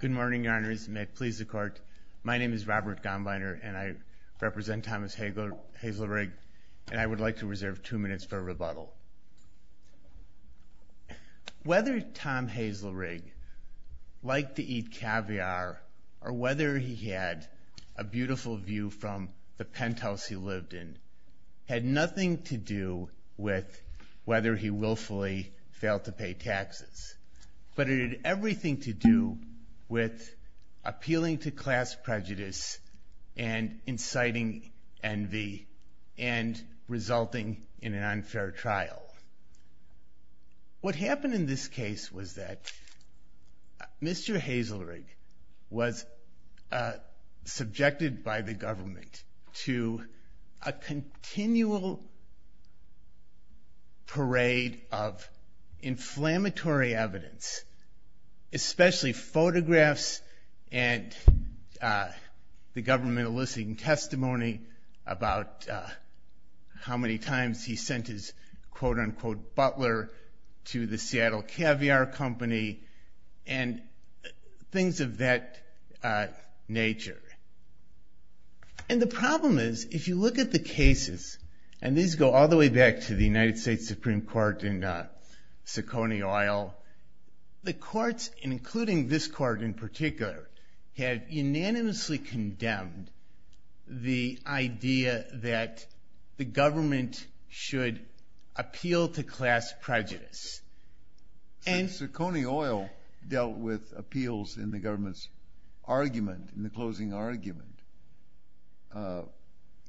Good morning, Your Honors, and may it please the Court, my name is Robert Gombiner and I represent Thomas Hazelrigg, and I would like to reserve two minutes for rebuttal. Whether Tom Hazelrigg liked to eat caviar or whether he had a beautiful view from the penthouse he lived in had nothing to do with whether he willfully failed to pay taxes, but it had everything to do with appealing to class prejudice and inciting envy and resulting in an unfair trial. What happened in this case was that Mr. Hazelrigg was subjected by the government to a continual parade of inflammatory evidence, especially photographs and the government eliciting testimony about how many times he sent his quote-unquote butler to the Seattle Caviar Company and things of that nature. And the problem is if you look at the cases, and these go all the way back to the United States Supreme Court in Siconioil, the courts, including this court in particular, had unanimously condemned the idea that the government should appeal to class prejudice and Siconioil dealt with appeals in the government's argument, in the closing argument.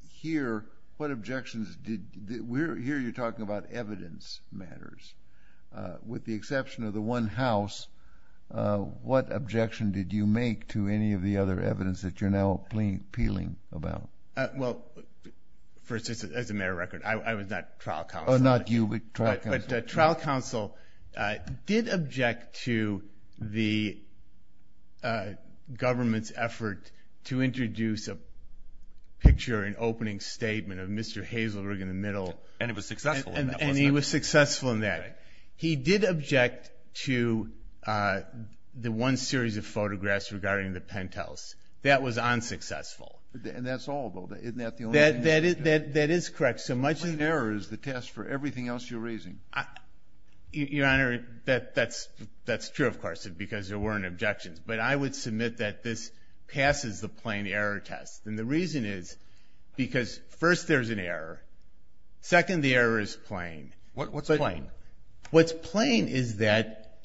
Here what objections did, here you're talking about evidence matters. With the exception of the one house, what objection did you make to any of the other evidence that you're now appealing about? Well, for instance, as a mayoral record, I was not trial counsel. Oh, not you, but trial counsel. But trial counsel did object to the government's effort to introduce a picture, an opening statement of Mr. Hazelrigg in the middle. And it was successful. And he was successful in that. He did object to the one series of photographs regarding the penthouse. That was unsuccessful. And that's all, though, isn't that the only thing you objected to? That is correct. So much of... The plain error is the test for everything else you're raising. Your Honor, that's true, of course, because there weren't objections. But I would submit that this passes the plain error test. And the reason is because first, there's an error. Second, the error is plain. What's plain? What's plain is that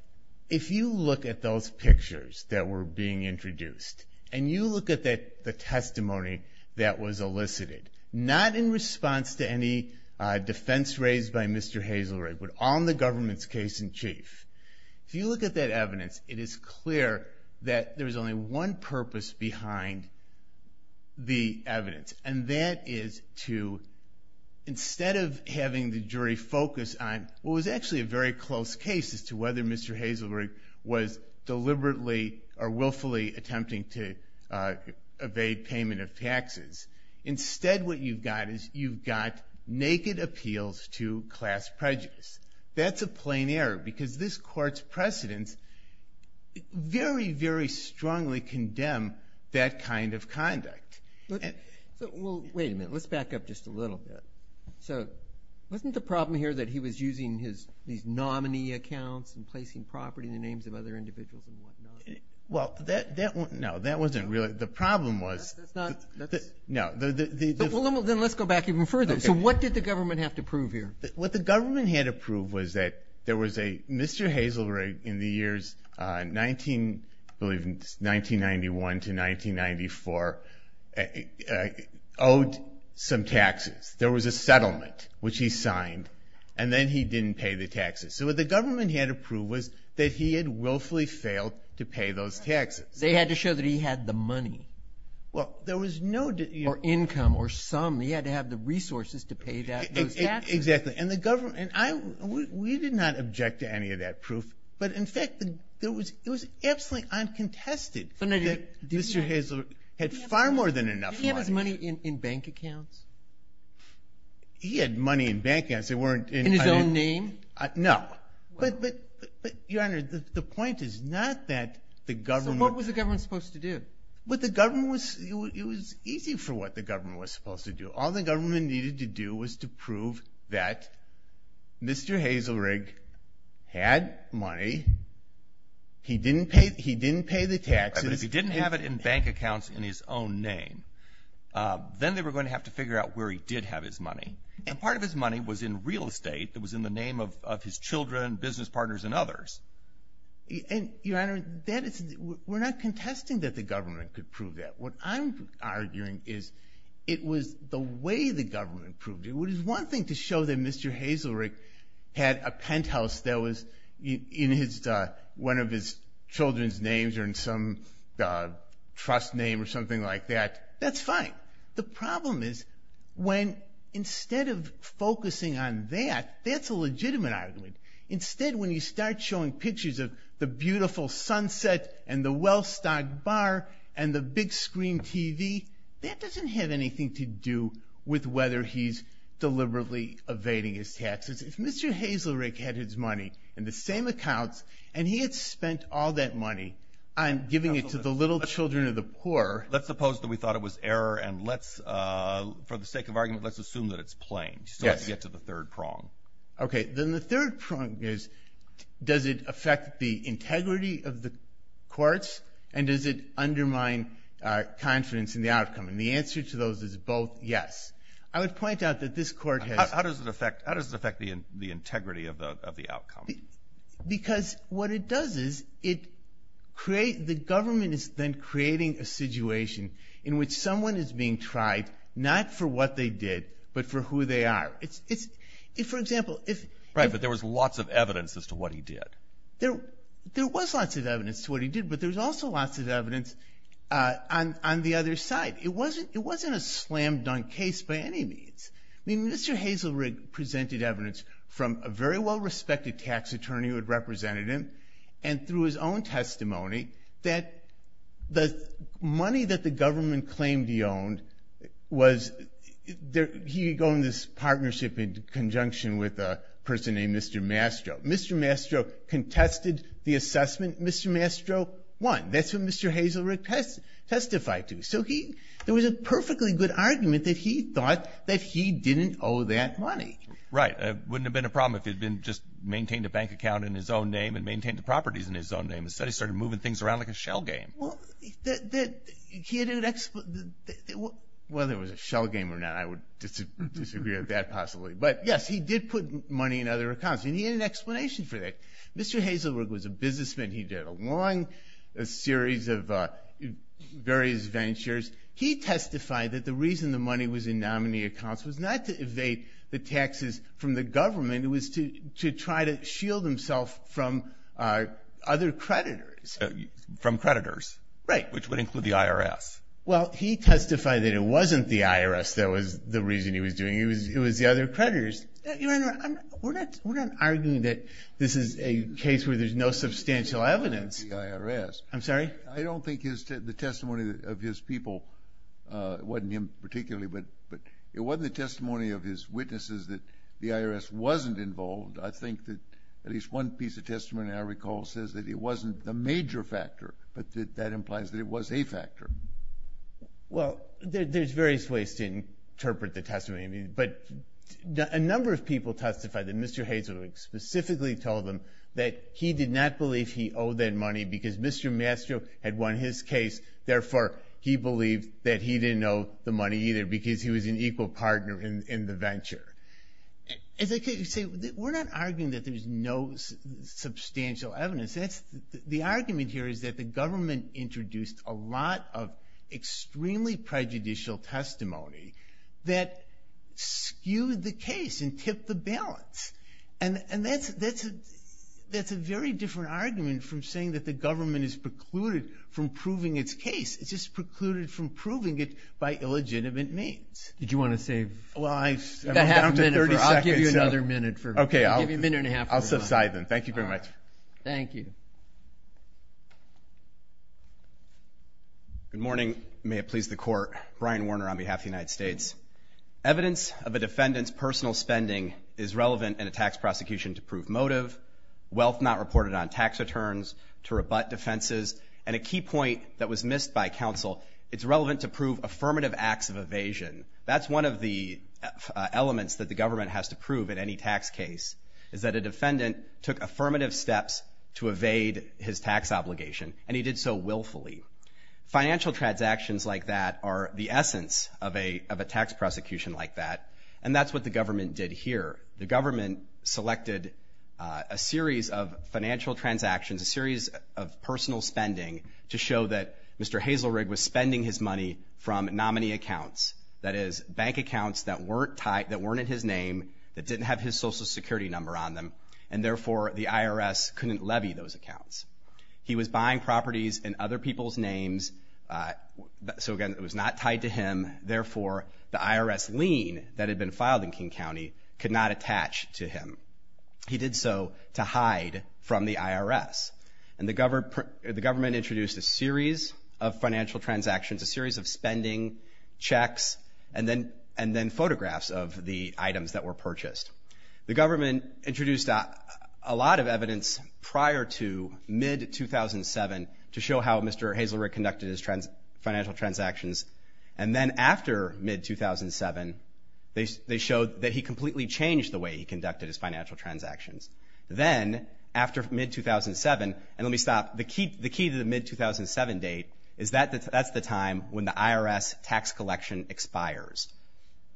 if you look at those pictures that were being introduced, and you look at the testimony that was elicited, not in response to any defense raised by Mr. Hazelrigg, but on the government's case in chief. If you look at that evidence, it is clear that there was only one purpose behind the case. And that is to, instead of having the jury focus on what was actually a very close case as to whether Mr. Hazelrigg was deliberately or willfully attempting to evade payment of taxes, instead what you've got is you've got naked appeals to class prejudice. That's a plain error because this court's precedents very, very strongly condemn that kind of conduct. Well, wait a minute. Let's back up just a little bit. So, wasn't the problem here that he was using his, these nominee accounts and placing property in the names of other individuals and whatnot? Well, that, that, no, that wasn't really, the problem was... That's not, that's... No, the, the... Well, then let's go back even further. So what did the government have to prove here? What the government had to prove was that there was a, Mr. Hazelrigg in the years 19, I believe it was 1991 to 1994, owed some taxes. There was a settlement, which he signed, and then he didn't pay the taxes. So what the government had to prove was that he had willfully failed to pay those taxes. They had to show that he had the money. Well, there was no... Or income, or some. He had to have the resources to pay those taxes. Exactly. And the government, and I, we did not object to any of that proof, but in fact, there was, it was absolutely uncontested that Mr. Hazelrigg had far more than enough money. Did he have his money in bank accounts? He had money in bank accounts. They weren't in... In his own name? No. But, but, but, Your Honor, the point is not that the government... So what was the government supposed to do? Well, the government was, it was easy for what the government was supposed to do. All the government needed to do was to prove that Mr. Hazelrigg had money. He didn't pay, he didn't pay the taxes. Right, but if he didn't have it in bank accounts in his own name, then they were going to have to figure out where he did have his money. And part of his money was in real estate that was in the name of his children, business partners, and others. And, Your Honor, that is, we're not contesting that the government could prove that. What I'm arguing is it was the way the government proved it. It was one thing to show that Mr. Hazelrigg had a penthouse that was in his, one of his children's names or in some trust name or something like that. That's fine. The problem is when instead of focusing on that, that's a legitimate argument. Instead, when you start showing pictures of the beautiful sunset and the well-stocked bar and the big screen TV, that doesn't have anything to do with whether he's deliberately evading his taxes. If Mr. Hazelrigg had his money in the same accounts and he had spent all that money on giving it to the little children of the poor. Let's suppose that we thought it was error and let's, for the sake of argument, let's assume that it's plain. Yes. So let's get to the third prong. Okay. Then the third prong is does it affect the integrity of the courts and does it undermine confidence in the outcome? And the answer to those is both yes. I would point out that this court has. How does it affect the integrity of the outcome? Because what it does is it creates, the government is then creating a situation in which someone is being tried, not for what they did but for who they are. For example, if. Right, but there was lots of evidence as to what he did. There was lots of evidence to what he did, but there was also lots of evidence on the other side. It wasn't a slam-dunk case by any means. I mean, Mr. Hazelrigg presented evidence from a very well-respected tax attorney who had represented him and through his own testimony that the money that the government claimed he owned was, he would go in this partnership in conjunction with a person named Mr. Mastro. Mr. Mastro contested the assessment. Mr. Mastro won. That's what Mr. Hazelrigg testified to. So he, there was a perfectly good argument that he thought that he didn't owe that money. Right. It wouldn't have been a problem if he had just maintained a bank account in his own name and maintained the properties in his own name. Instead, he started moving things around like a shell game. Well, he had an explanation. Whether it was a shell game or not, I would disagree with that possibly. But, yes, he did put money in other accounts, and he had an explanation for that. Mr. Hazelrigg was a businessman. He did a long series of various ventures. He testified that the reason the money was in nominee accounts was not to evade the taxes from the government. It was to try to shield himself from other creditors. From creditors. Right. Which would include the IRS. Well, he testified that it wasn't the IRS that was the reason he was doing it. It was the other creditors. Your Honor, we're not arguing that this is a case where there's no substantial evidence. I'm sorry? I don't think the testimony of his people, it wasn't him particularly, but it wasn't the testimony of his witnesses that the IRS wasn't involved. I think that at least one piece of testimony, I recall, says that it wasn't the major factor, but that implies that it was a factor. Well, there's various ways to interpret the testimony, but a number of people testified that Mr. Hazelrigg specifically told them that he did not believe he owed that money because Mr. Mastro had won his case, therefore he believed that he didn't owe the money either because he was an equal partner in the venture. As I say, we're not arguing that there's no substantial evidence. The argument here is that the government introduced a lot of extremely prejudicial testimony that skewed the case and tipped the balance. And that's a very different argument from saying that the government is precluded from proving its case. It's just precluded from proving it by illegitimate means. Did you want to save? Well, I'm down to 30 seconds. I'll give you another minute. Okay, I'll subside then. Thank you very much. Thank you. Good morning. May it please the Court. Brian Warner on behalf of the United States. Evidence of a defendant's personal spending is relevant in a tax prosecution to prove motive, wealth not reported on tax returns, to rebut defenses, and a key point that was missed by counsel, it's relevant to prove affirmative acts of evasion. That's one of the elements that the government has to prove in any tax case, is that a defendant took affirmative steps to evade his tax obligation, and he did so willfully. Financial transactions like that are the essence of a tax prosecution like that, and that's what the government did here. The government selected a series of financial transactions, a series of personal spending, to show that Mr. Hazelrigg was spending his money from nominee accounts, that is bank accounts that weren't in his name, that didn't have his Social Security number on them, and therefore the IRS couldn't levy those accounts. He was buying properties in other people's names, so again, it was not tied to him, therefore the IRS lien that had been filed in King County could not attach to him. He did so to hide from the IRS, and the government introduced a series of financial transactions, a series of spending checks, and then photographs of the items that were purchased. The government introduced a lot of evidence prior to mid-2007 to show how Mr. Hazelrigg conducted his financial transactions, and then after mid-2007 they showed that he completely changed the way he conducted his financial transactions. Then after mid-2007, and let me stop, the key to the mid-2007 date is that that's the time when the IRS tax collection expires.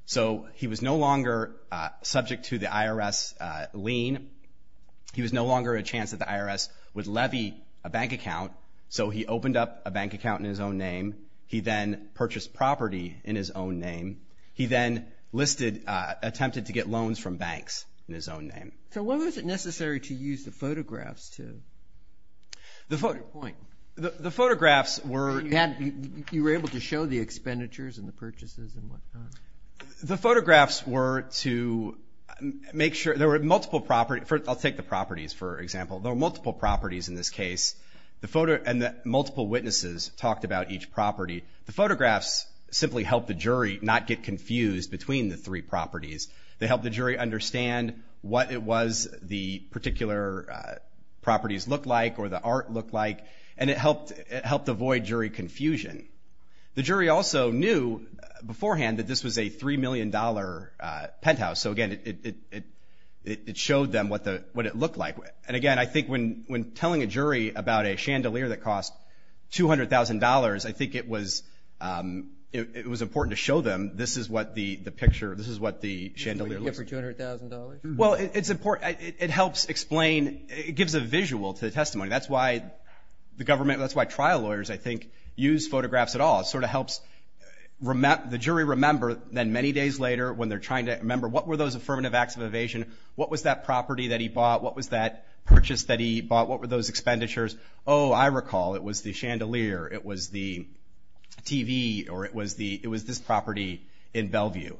So he was no longer subject to the IRS lien. He was no longer a chance that the IRS would levy a bank account, so he opened up a bank account in his own name. He then purchased property in his own name. He then listed, attempted to get loans from banks in his own name. So when was it necessary to use the photographs to point? The photographs were... You were able to show the expenditures and the purchases and whatnot? The photographs were to make sure... There were multiple property... I'll take the properties, for example. There were multiple properties in this case, and multiple witnesses talked about each property. The photographs simply helped the jury not get confused between the three properties. They helped the jury understand what it was the particular properties looked like or the art looked like, and it helped avoid jury confusion. The jury also knew beforehand that this was a $3 million penthouse, so, again, it showed them what it looked like. And, again, I think when telling a jury about a chandelier that cost $200,000, I think it was important to show them this is what the picture, this is what the chandelier looks like. Would you give for $200,000? Well, it's important. It helps explain... It gives a visual to the testimony. That's why the government... That's why trial lawyers, I think, use photographs at all. It sort of helps the jury remember. Then many days later when they're trying to remember, what were those affirmative acts of evasion? What was that property that he bought? What was that purchase that he bought? What were those expenditures? Oh, I recall it was the chandelier. It was the TV, or it was this property in Bellevue.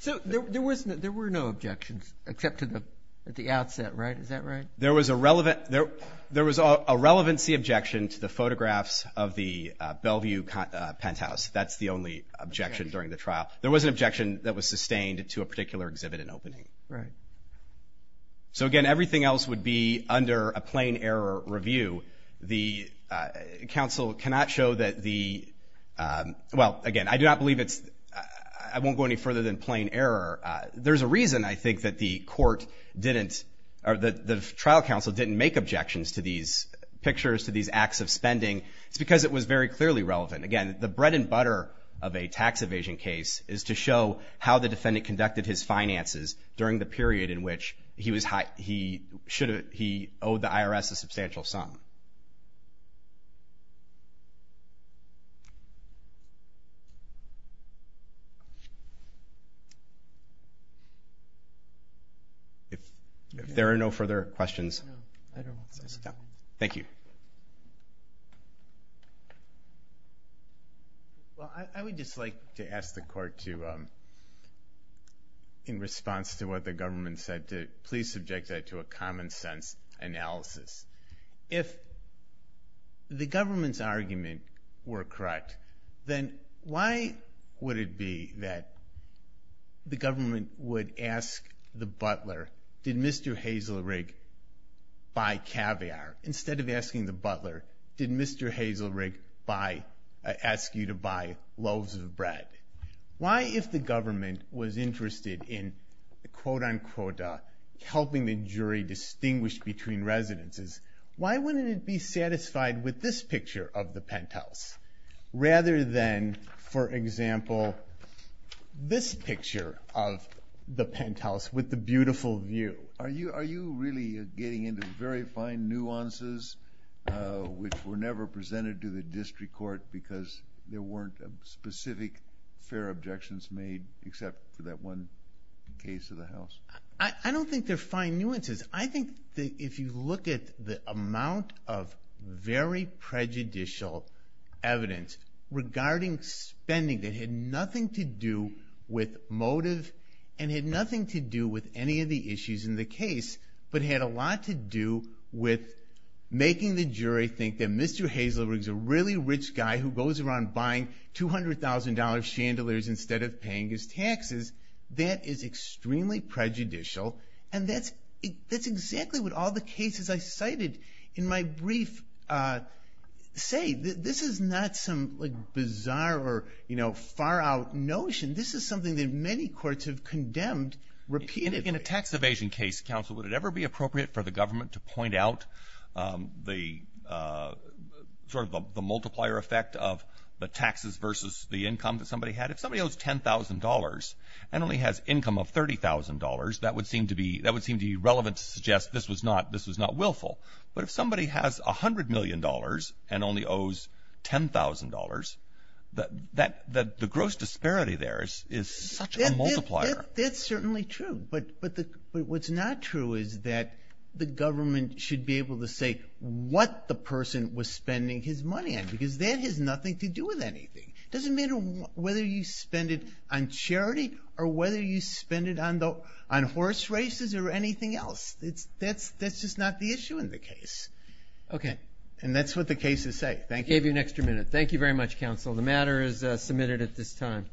So there were no objections except at the outset, right? Is that right? There was a relevancy objection to the photographs of the Bellevue penthouse. That's the only objection during the trial. There was an objection that was sustained to a particular exhibit and opening. Right. So, again, everything else would be under a plain error review. The counsel cannot show that the... Well, again, I do not believe it's... I won't go any further than plain error. There's a reason, I think, that the court didn't... or the trial counsel didn't make objections to these pictures, to these acts of spending. It's because it was very clearly relevant. Again, the bread and butter of a tax evasion case is to show how the defendant conducted his finances during the period in which he owed the IRS a substantial sum. If there are no further questions... Well, I would just like to ask the court to, in response to what the government said, to please subject that to a common sense analysis. If the government's argument were correct, then why would it be that the government would ask the butler, did Mr. Hazelrig buy caviar, instead of asking the butler, did Mr. Hazelrig ask you to buy loaves of bread? Why, if the government was interested in, quote-unquote, helping the jury distinguish between residences, why wouldn't it be satisfied with this picture of the penthouse, rather than, for example, this picture of the penthouse with the beautiful view? Are you really getting into very fine nuances, which were never presented to the district court because there weren't specific fair objections made except for that one case of the house? I don't think they're fine nuances. I think that if you look at the amount of very prejudicial evidence regarding spending that had nothing to do with motive and had nothing to do with any of the issues in the case, but had a lot to do with making the jury think that Mr. Hazelrig is a really rich guy who goes around buying $200,000 chandeliers instead of paying his taxes, that is extremely prejudicial, and that's exactly what all the cases I cited in my brief say. This is not some bizarre or far-out notion. This is something that many courts have condemned repeatedly. In a tax evasion case, counsel, would it ever be appropriate for the government to point out the multiplier effect of the taxes versus the income that somebody had? If somebody owes $10,000 and only has income of $30,000, that would seem to be relevant to suggest this was not willful. But if somebody has $100 million and only owes $10,000, the gross disparity there is such a multiplier. That's certainly true. But what's not true is that the government should be able to say what the person was spending his money on, because that has nothing to do with anything. It doesn't matter whether you spend it on charity or whether you spend it on horse races or anything else. That's just not the issue in the case. Okay. And that's what the cases say. Thank you. I gave you an extra minute. Thank you very much, counsel. The matter is submitted at this time.